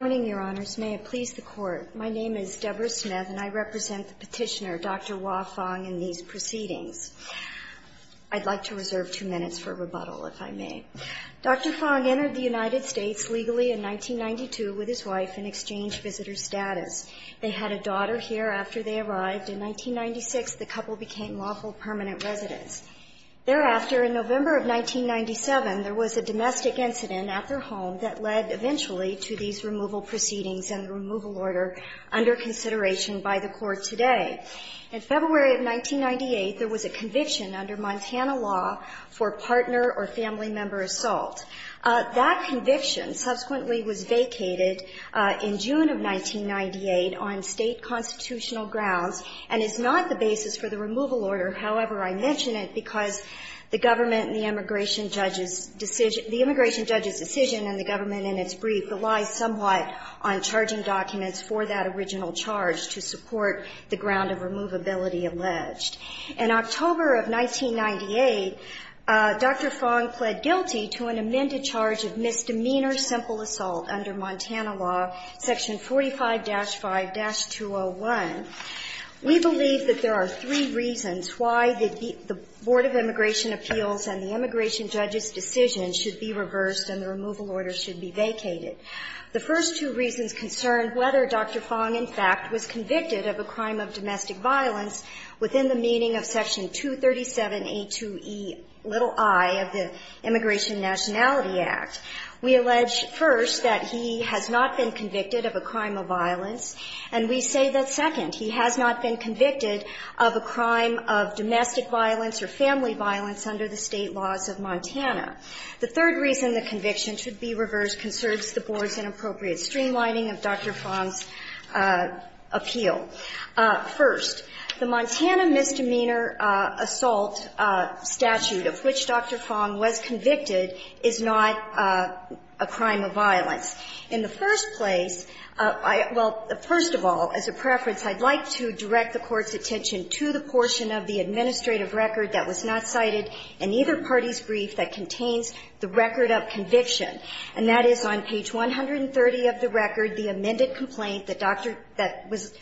Good morning, Your Honors. May it please the Court. My name is Deborah Smith and I represent the petitioner, Dr. Wah Fong, in these proceedings. I'd like to reserve two minutes for rebuttal, if I may. Dr. Fong entered the United States legally in 1992 with his wife in exchange visitor status. They had a daughter here after they arrived. In 1996, the couple became lawful permanent residents. Thereafter, in November of 1997, there was a domestic incident at their home that led, eventually, to these removal proceedings and the removal order under consideration by the Court today. In February of 1998, there was a conviction under Montana law for partner or family member assault. That conviction subsequently was vacated in June of 1998 on State constitutional grounds, and is not the basis for the removal order. However, I mention it because the government and the immigration judge's decision, the immigration judge's decision and the government in its brief relies somewhat on charging documents for that original charge to support the ground of removability alleged. In October of 1998, Dr. Fong pled guilty to an amended charge of misdemeanor simple assault under Montana law, section 45-5-201. We believe that there are three reasons why the Board of Immigration Appeals and the immigration judge's decision should be reversed and the removal order should be vacated. The first two reasons concern whether Dr. Fong, in fact, was convicted of a crime of domestic violence within the meaning of section 237A2ei of the Immigration Nationality Act. We allege, first, that he has not been convicted of a crime of violence, and we say that, second, he has not been convicted of a crime of domestic violence or family violence under the State laws of Montana. The third reason the conviction should be reversed concerns the Board's inappropriate streamlining of Dr. Fong's appeal. First, the Montana misdemeanor assault statute of which Dr. Fong was convicted is not a crime of violence. In the first place, I – well, first of all, as a preference, I'd like to direct the Court's attention to the portion of the administrative record that was not cited in either party's brief that contains the record of conviction, and that is on page 130 of the record, the amended complaint that Dr. – that was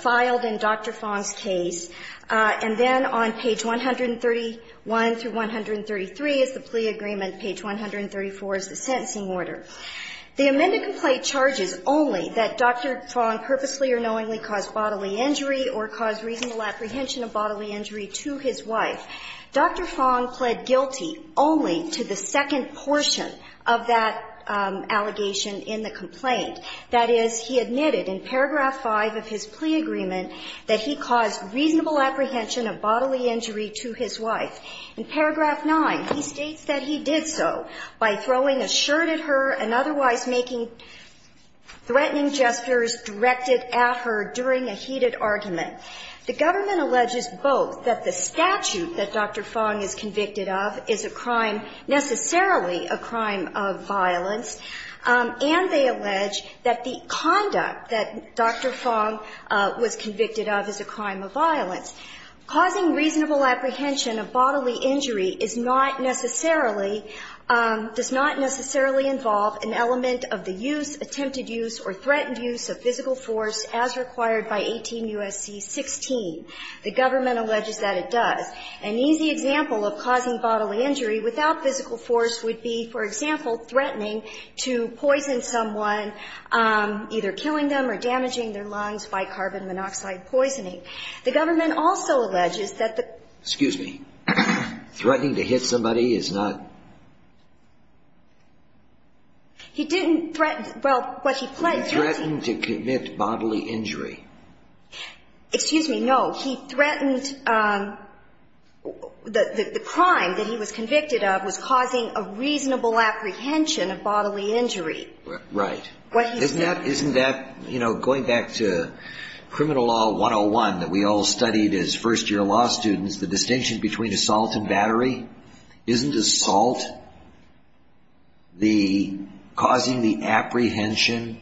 filed in Dr. Fong's case. And then on page 131 through 133 is the plea agreement, page 134 is the sentencing order. The amended complaint charges only that Dr. Fong purposely or knowingly caused bodily injury or caused reasonable apprehension of bodily injury to his wife. Dr. Fong pled guilty only to the second portion of that allegation in the complaint. That is, he admitted in paragraph 5 of his plea agreement that he caused reasonable apprehension of bodily injury to his wife. In paragraph 9, he states that he did so by throwing a shirt at her and otherwise making threatening gestures directed at her during a heated argument. The government alleges both that the statute that Dr. Fong is convicted of is a crime, necessarily a crime of violence, and they allege that the conduct that Dr. Fong was convicted of is a crime of violence. Causing reasonable apprehension of bodily injury is not necessarily, does not necessarily involve an element of the use, attempted use or threatened use of physical force as required by 18 U.S.C. 16. The government alleges that it does. An easy example of causing bodily injury without physical force would be, for example, threatening to poison someone, either killing them or damaging their lungs by carbon monoxide poisoning. The government also alleges that the – excuse me – threatening to hit somebody is not – He didn't threaten – well, what he pledged – He threatened to commit bodily injury. Excuse me, no. He threatened – the crime that he was convicted of was causing a reasonable apprehension of bodily injury. Right. Isn't that – isn't that, you know, going back to criminal law 101 that we all studied as first-year law students, the distinction between assault and battery? Isn't assault the – causing the apprehension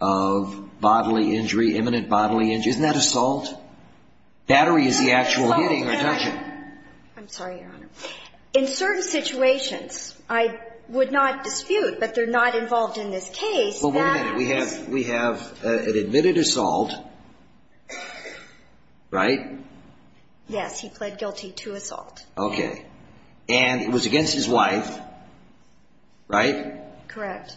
of bodily injury, imminent bodily injury? Isn't that assault? Battery is the actual hitting or touching. I'm sorry, Your Honor. In certain situations, I would not dispute, but they're not involved in this case, that is – Yes. He pled guilty to assault. Okay. And it was against his wife, right? Correct.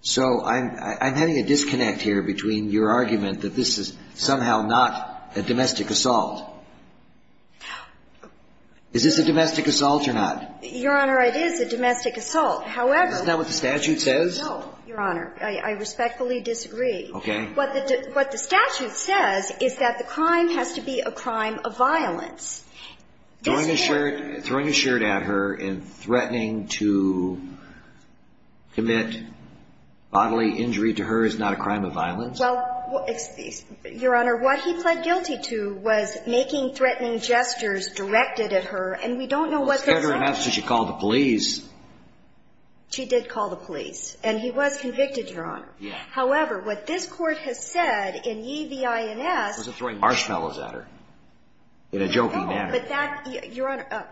So I'm – I'm having a disconnect here between your argument that this is somehow not a domestic assault. Is this a domestic assault or not? Your Honor, it is a domestic assault. However – Isn't that what the statute says? No, Your Honor. I respectfully disagree. Okay. What the – what the statute says is that the crime has to be a crime of violence. Throwing a shirt – throwing a shirt at her and threatening to commit bodily injury to her is not a crime of violence? Well, Your Honor, what he pled guilty to was making threatening gestures directed at her, and we don't know what those are. Well, said her enough so she called the police. She did call the police. And he was convicted, Your Honor. Yes. However, what this Court has said in E.V.I.N.S. Was it throwing marshmallows at her in a jokey manner? No. But that – Your Honor,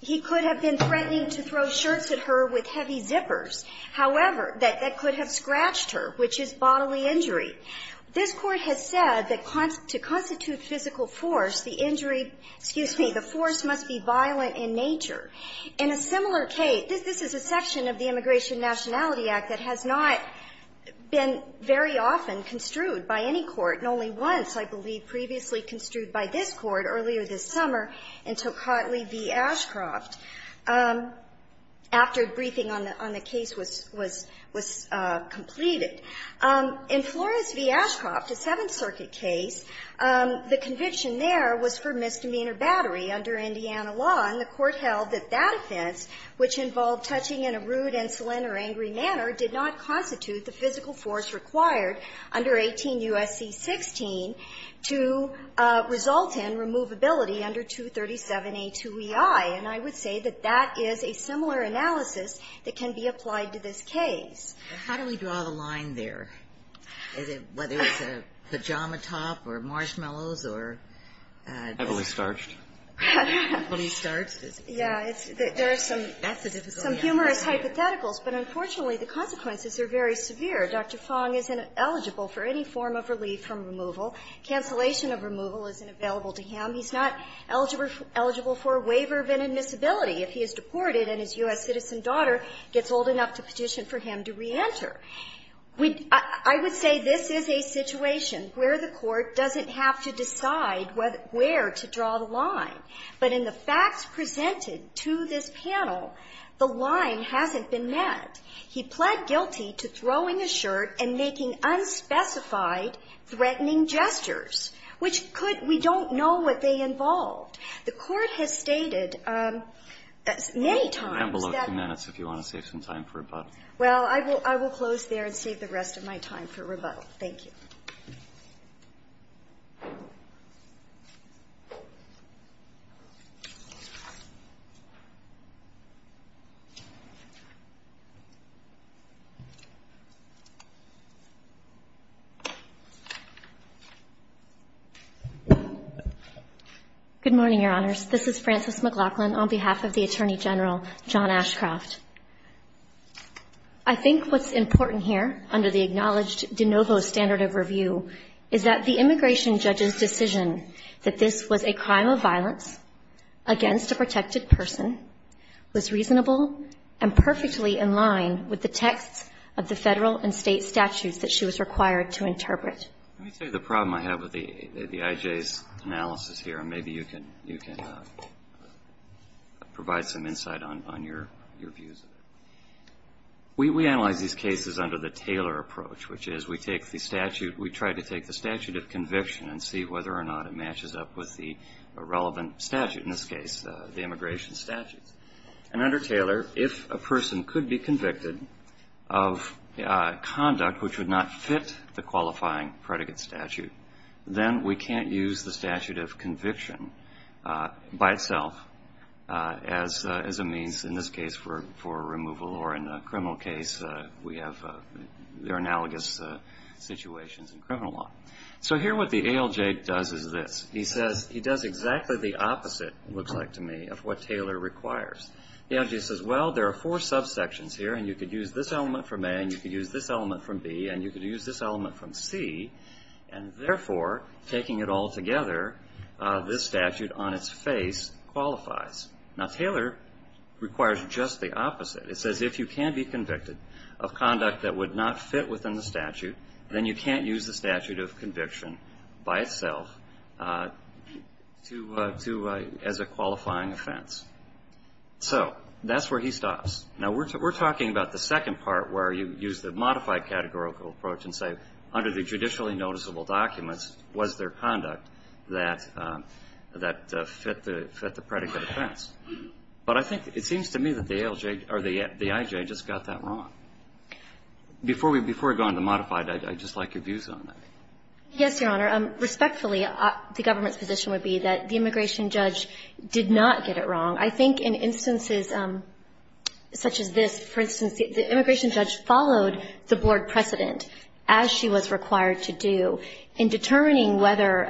he could have been threatening to throw shirts at her with heavy zippers. However, that could have scratched her, which is bodily injury. This Court has said that to constitute physical force, the injury – excuse me, the force must be violent in nature. In a similar case – this is a section of the case that's been very often construed by any court, and only once, I believe, previously construed by this Court earlier this summer in Tocatli v. Ashcroft after briefing on the case was – was completed. In Flores v. Ashcroft, a Seventh Circuit case, the conviction there was for misdemeanor battery under Indiana law, and the Court held that that offense, which involved touching in a rude, insolent or angry manner, did not constitute the physical force required under 18 U.S.C. 16 to result in removability under 237A2EI. And I would say that that is a similar analysis that can be applied to this case. How do we draw the line there? Is it whether it's a pajama top or marshmallows or – Heavily starched. Heavily starched is – Yeah. There are some humorous hypotheticals, but unfortunately, the consequences are very severe. Dr. Fong isn't eligible for any form of relief from removal. Cancellation of removal isn't available to him. He's not eligible for waiver of inadmissibility if he is deported and his U.S. citizen daughter gets old enough to petition for him to reenter. I would say this is a situation where the Court doesn't have to decide where to draw the line. But in the facts presented to this panel, the line hasn't been met. He pled guilty to throwing a shirt and making unspecified threatening gestures, which could – we don't know what they involved. The Court has stated many times that – You have below two minutes if you want to save some time for rebuttal. Well, I will close there and save the rest of my time for rebuttal. Thank you. Good morning, Your Honors. This is Frances McLachlan on behalf of the Attorney General John Ashcroft. I think what's important here under the acknowledged de novo standard of review is that the immigration judge's decision that this was a crime of violence against a protected person was reasonable and perfectly in line with the texts of the Federal and State statutes that she was required to interpret. Let me tell you the problem I have with the I.J.'s analysis here, and maybe you can provide some insight on your views. We analyze these cases under the Taylor approach, which is we take the statute – we try to take the statute of conviction and see whether or not it matches up with the relevant statute, in this case the immigration statute. And under Taylor, if a person could be convicted of conduct which would not fit the qualifying predicate statute, then we can't use the statute of conviction by itself as a means, in this case, for removal, or in a criminal case, we have their analogous situations in criminal law. So here what the ALJ does is this. He says – he does exactly the opposite, it looks like to me, of what Taylor requires. The ALJ says, well, there are four subsections here, and you could use this element from A, and you could use this element from B, and you could use this element from C, and therefore, taking it all together, this statute on its face qualifies. Now, Taylor requires just the opposite. It says if you can be convicted of conduct that would not fit within the statute, then you can't use the statute of conviction by itself to – as a qualifying offense. So that's where he stops. Now, we're talking about the second part where you use the modified categorical approach and say, under the statute of conviction, that would not fit the predicate offense. But I think it seems to me that the ALJ – or the IJ just got that wrong. Before we go on to the modified, I'd just like your views on that. Yes, Your Honor. Respectfully, the government's position would be that the immigration judge did not get it wrong. I think in instances such as this, for instance, the immigration judge followed the board precedent, as she was required to do, in determining whether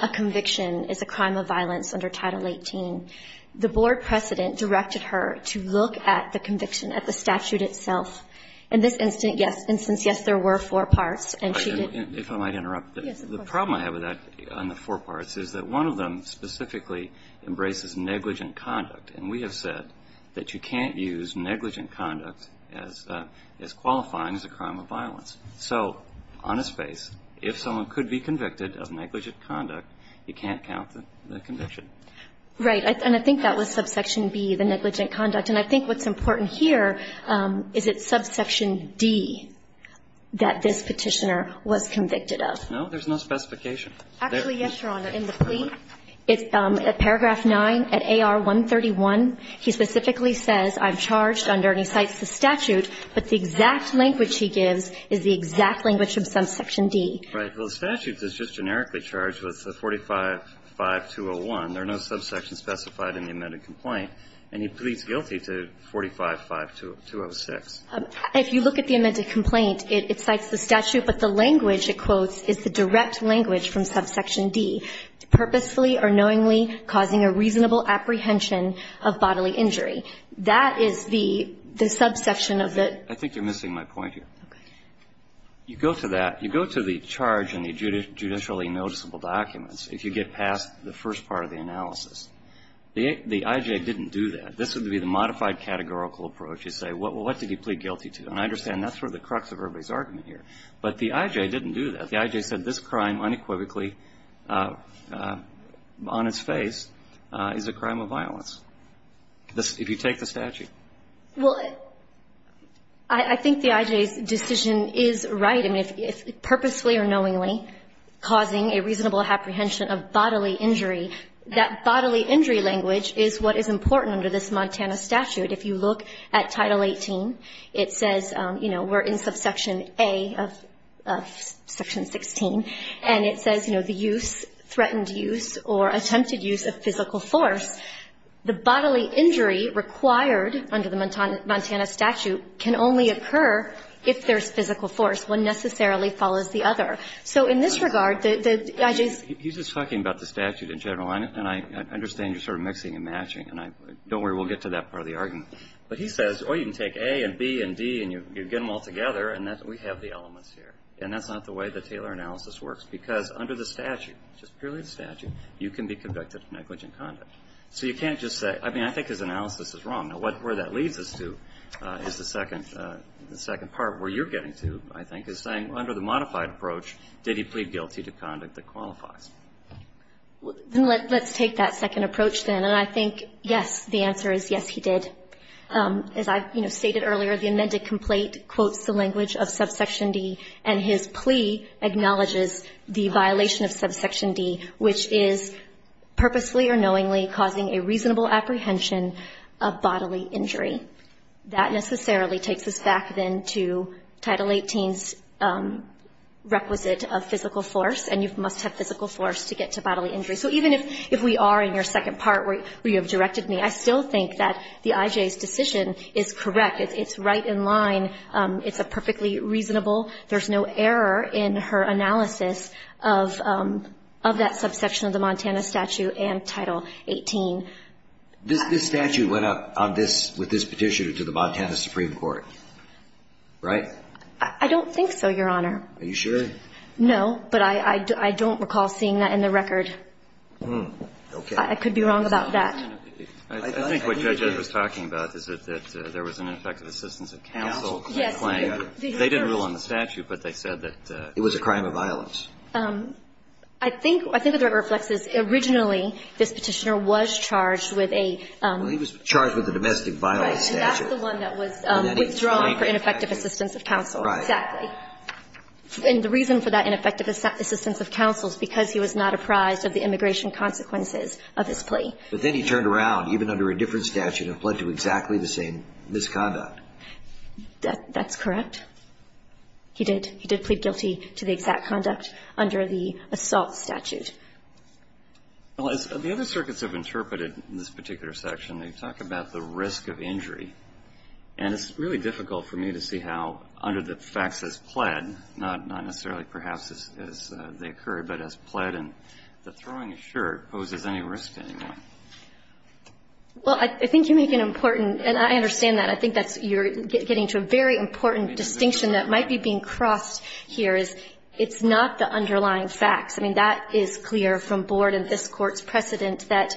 a conviction is a crime of violence under Title 18. The board precedent directed her to look at the conviction at the statute itself. In this instance, yes, there were four parts. If I might interrupt. Yes, of course. The problem I have with that, on the four parts, is that one of them specifically embraces negligent conduct. And we have said that you can't use negligent conduct as qualifying as a crime of violence. So on a space, if someone could be convicted of negligent conduct, you can't count the conviction. Right. And I think that was subsection B, the negligent conduct. And I think what's important here is it's subsection D that this Petitioner was convicted of. No, there's no specification. Actually, yes, Your Honor. In the plea, at paragraph 9, at AR 131, he specifically says, I'm charged under, and he cites the statute, but the exact language he gives is the exact language of subsection D. Right. Well, the statute is just generically charged with 45-5201. There are no subsections specified in the amended complaint. And he pleads guilty to 45-5206. If you look at the amended complaint, it cites the statute, but the language, it quotes, is the direct language from subsection D, purposefully or knowingly causing a reasonable apprehension of bodily injury. That is the subsection of the ---- I think you're missing my point here. Okay. You go to that, you go to the charge in the judicially noticeable documents if you get past the first part of the analysis. The I.J. didn't do that. This would be the modified categorical approach. You say, well, what did he plead guilty to? And I understand that's sort of the crux of everybody's argument here. But the I.J. didn't do that. The I.J. said this crime unequivocally on its face is a crime of violence. If you take the statute. Well, I think the I.J.'s decision is right. I mean, if purposefully or knowingly causing a reasonable apprehension of bodily injury, that bodily injury language is what is important under this Montana statute. If you look at Title 18, it says, you know, we're in subsection A of section 16, and it says, you know, the use, threatened use or attempted use of physical force, the bodily injury required under the Montana statute can only occur if there's physical force. One necessarily follows the other. So in this regard, the I.J.'s ---- He's just talking about the statute in general, and I understand you're sort of mixing and matching. And don't worry, we'll get to that part of the argument. But he says, oh, you can take A and B and D and you get them all together, and we have the elements here. And that's not the way the Taylor analysis works, because under the statute, just purely the statute, you can be convicted of negligent conduct. So you can't just say, I mean, I think his analysis is wrong. Now, where that leads us to is the second part where you're getting to, I think, is saying under the modified approach, did he plead guilty to conduct that qualifies? Let's take that second approach, then. And I think, yes, the answer is, yes, he did. As I, you know, stated earlier, the amended complaint quotes the language of subsection D, and his plea acknowledges the violation of subsection D, which is purposefully or knowingly causing a reasonable apprehension of bodily injury. That necessarily takes us back, then, to Title 18's requisite of physical force, and you must have physical force to get to bodily injury. So even if we are in your second part, where you have directed me, I still think that the IJ's decision is correct. It's right in line. It's perfectly reasonable. There's no error in her analysis of that subsection of the Montana statute and Title 18. This statute went up with this petition to the Montana Supreme Court, right? I don't think so, Your Honor. Are you sure? No, but I don't recall seeing that in the record. Okay. I could be wrong about that. I think what Judge Ed was talking about is that there was an ineffective assistance of counsel claim. Yes. They didn't rule on the statute, but they said that it was a crime of violence. I think what that reflects is, originally, this petitioner was charged with a Well, he was charged with a domestic violence statute. Right. And that's the one that was withdrawn for ineffective assistance of counsel. Right. Exactly. And the reason for that ineffective assistance of counsel is because he was not apprised of the immigration consequences of his plea. But then he turned around, even under a different statute, and pled to exactly the same misconduct. That's correct. He did. He did plead guilty to the exact conduct under the assault statute. Well, as the other circuits have interpreted in this particular section, they talk about the risk of injury. And it's really difficult for me to see how, under the facts as pled, not necessarily perhaps as they occur, but as pled and the throwing a shirt poses any risk anymore. Well, I think you make an important, and I understand that. I think that's you're getting to a very important distinction that might be being crossed here, is it's not the underlying facts. I mean, that is clear from Board and this Court's precedent that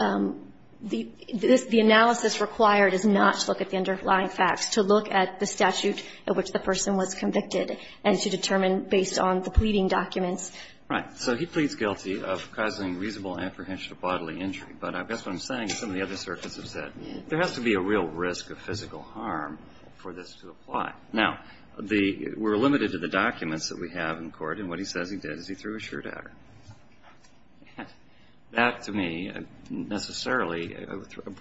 the analysis required is not to look at the underlying facts, to look at the statute at which the person was convicted, and to determine based on the pleading documents. Right. So he pleads guilty of causing reasonable apprehension of bodily injury. But I guess what I'm saying is some of the other circuits have said there has to be a real risk of physical harm for this to apply. Now, we're limited to the documents that we have in court. And what he says he did is he threw a shirt at her. That, to me, necessarily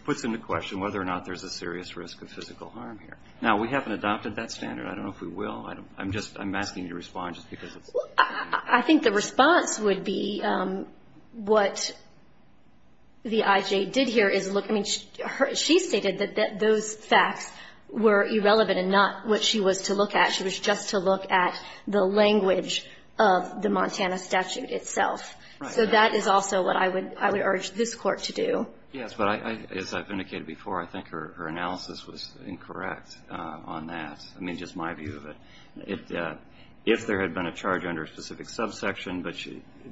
puts into question whether or not there's a serious risk of physical harm here. Now, we haven't adopted that standard. I don't know if we will. I'm asking you to respond just because it's... I think the response would be what the IJ did here is look... I mean, she stated that those facts were irrelevant and not what she was to look at. She was just to look at the language of the Montana statute itself. Right. So that is also what I would urge this Court to do. Yes, but as I've indicated before, I think her analysis was incorrect on that. I mean, just my view of it. If there had been a charge under a specific subsection,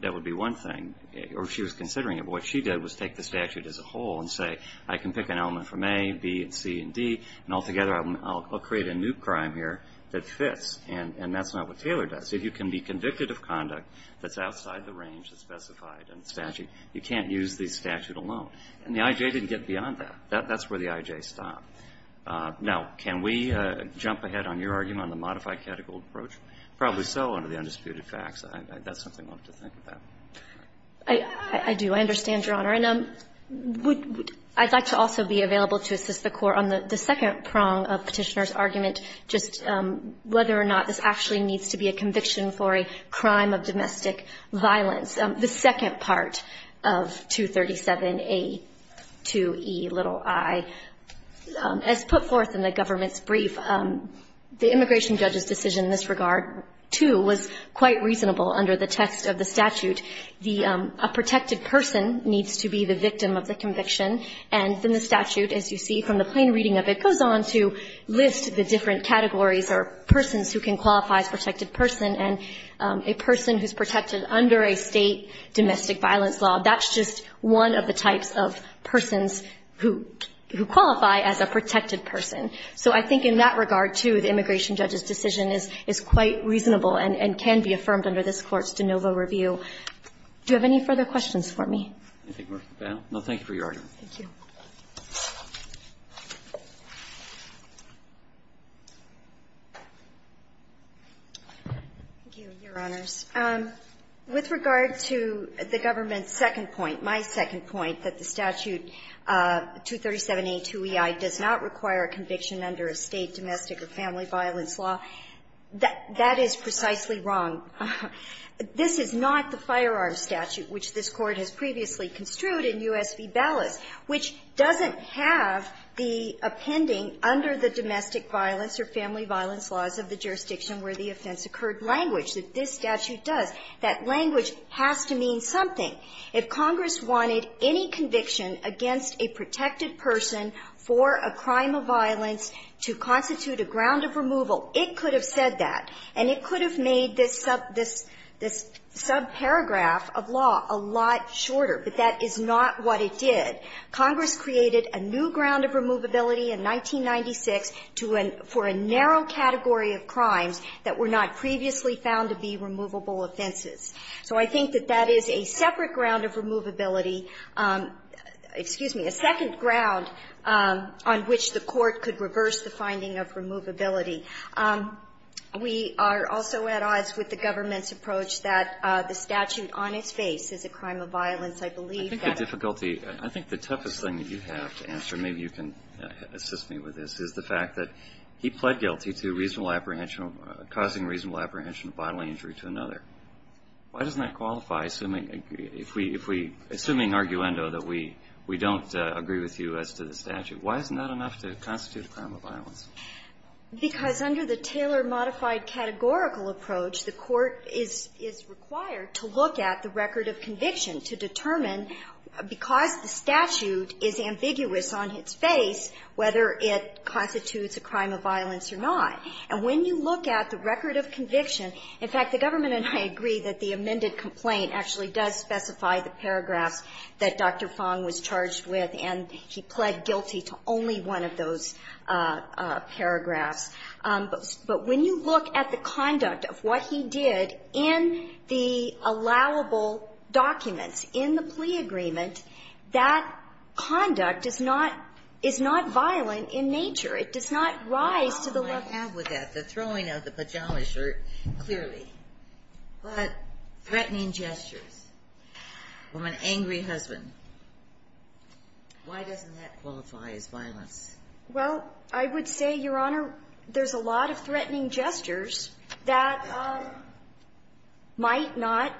that would be one thing. Or if she was considering it, what she did was take the statute as a whole and say, I can pick an element from A, B, and C, and D, and altogether I'll create a new crime here that fits. And that's not what Taylor does. If you can be convicted of conduct that's outside the range that's specified in the statute, you can't use the statute alone. And the IJ didn't get beyond that. That's where the IJ stopped. Now, can we jump ahead on your argument on the modified catechol approach? Probably so under the undisputed facts. That's something we'll have to think about. I do. I understand, Your Honor. And I'd like to also be available to assist the Court on the second prong of Petitioner's argument, just whether or not this actually needs to be a conviction for a crime of domestic violence. The second part of 237A2Ei. As put forth in the government's brief, the immigration judge's decision in this regard, too, was quite reasonable under the text of the statute. A protected person needs to be the victim of the conviction. And in the statute, as you see from the plain reading of it, goes on to list the different categories or persons who can qualify as protected person. And a person who's protected under a state domestic violence law, that's just one of the types of persons who qualify as a protected person. So I think in that regard, too, the immigration judge's decision is quite reasonable and can be affirmed under this Court's de novo review. Do you have any further questions for me? No. Thank you for your argument. Thank you. Thank you, Your Honors. With regard to the government's second point, my second point, that the statute 237A2Ei does not require a conviction under a state domestic or family violence law, that is precisely wrong. This is not the firearms statute, which this Court has previously construed in U.S. v. Ballas, which doesn't have the appending under the domestic violence laws of the jurisdiction where the offense occurred language that this statute does. That language has to mean something. If Congress wanted any conviction against a protected person for a crime of violence to constitute a ground of removal, it could have said that, and it could have made this subparagraph of law a lot shorter. But that is not what it did. Congress created a new ground of removability in 1996 for a narrow category of crimes that were not previously found to be removable offenses. So I think that that is a separate ground of removability, excuse me, a second ground on which the Court could reverse the finding of removability. We are also at odds with the government's approach that the statute on its face is a crime of violence. I believe that it's a crime of violence. I think the difficulty, I think the toughest thing that you have to answer, maybe you can assist me with this, is the fact that he pled guilty to reasonable apprehension, causing reasonable apprehension of bodily injury to another. Why doesn't that qualify, assuming, if we, assuming arguendo that we don't agree with you as to the statute? Why isn't that enough to constitute a crime of violence? Because under the Taylor-modified categorical approach, the Court is required to look at the record of conviction to determine, because the statute is ambiguous on its face, whether it constitutes a crime of violence or not. And when you look at the record of conviction, in fact, the government and I agree that the amended complaint actually does specify the paragraphs that Dr. Fong was charged with, and he pled guilty to only one of those paragraphs. But when you look at the conduct of what he did in the allowable documents in the plea agreement, that conduct is not, is not violent in nature. It does not rise to the level. The problem I have with that, the throwing of the pajama shirt, clearly. But threatening gestures from an angry husband. Why doesn't that qualify as violence? Well, I would say, Your Honor, there's a lot of threatening gestures that might not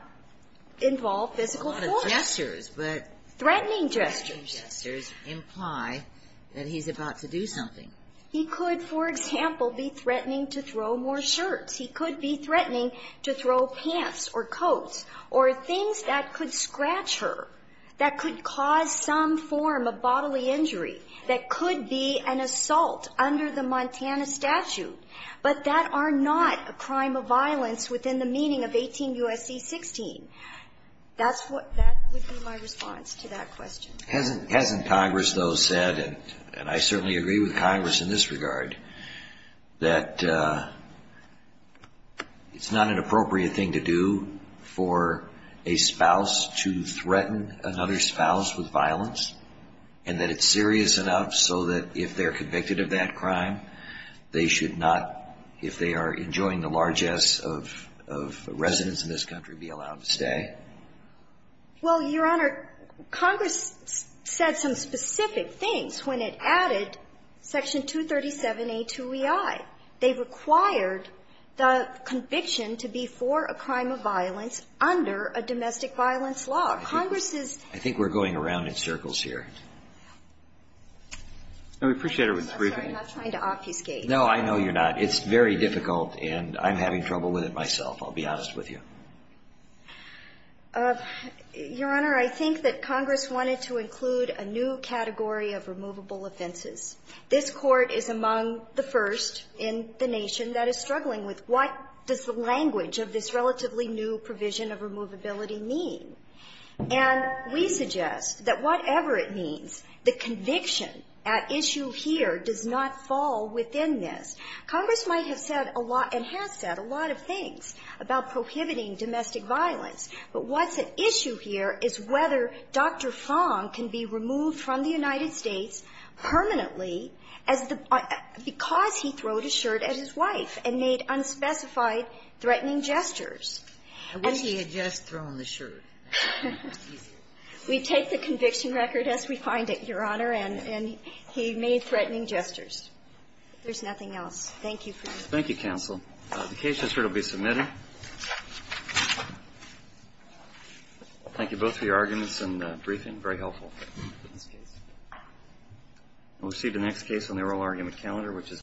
involve physical force. A lot of gestures, but. Threatening gestures. Threatening gestures imply that he's about to do something. He could, for example, be threatening to throw more shirts. He could be threatening to throw pants or coats or things that could scratch her, that could cause some form of bodily injury, that could be an assault under the Montana statute. But that are not a crime of violence within the meaning of 18 U.S.C. 16. That's what, that would be my response to that question. Hasn't Congress, though, said, and I certainly agree with Congress in this regard, that it's not an appropriate thing to do for a spouse to threaten another spouse with violence, and that it's serious enough so that if they're convicted of that crime, they should not, if they are enjoying the largesse of residence in this country, be allowed to stay? Well, Your Honor, Congress said some specific things when it added Section 237A to REI. They required the conviction to be for a crime of violence under a domestic violence law. Congress is --. I think we're going around in circles here. No, we appreciate everything. I'm sorry. I'm not trying to obfuscate. No, I know you're not. It's very difficult, and I'm having trouble with it myself, I'll be honest with you. Your Honor, I think that Congress wanted to include a new category of removable offenses. This Court is among the first in the nation that is struggling with what does the language of this relatively new provision of removability mean. And we suggest that whatever it means, the conviction at issue here does not fall within this. Congress might have said a lot and has said a lot of things about prohibiting domestic violence. But what's at issue here is whether Dr. Fong can be removed from the United States permanently as the – because he throwed a shirt at his wife and made unspecified threatening gestures. I wish he had just thrown the shirt. We take the conviction record as we find it, Your Honor, and he made threatening gestures. If there's nothing else, thank you for your time. Thank you, counsel. The case is here to be submitted. Thank you both for your arguments and briefing. Very helpful. We'll proceed to the next case on the oral argument calendar, which is the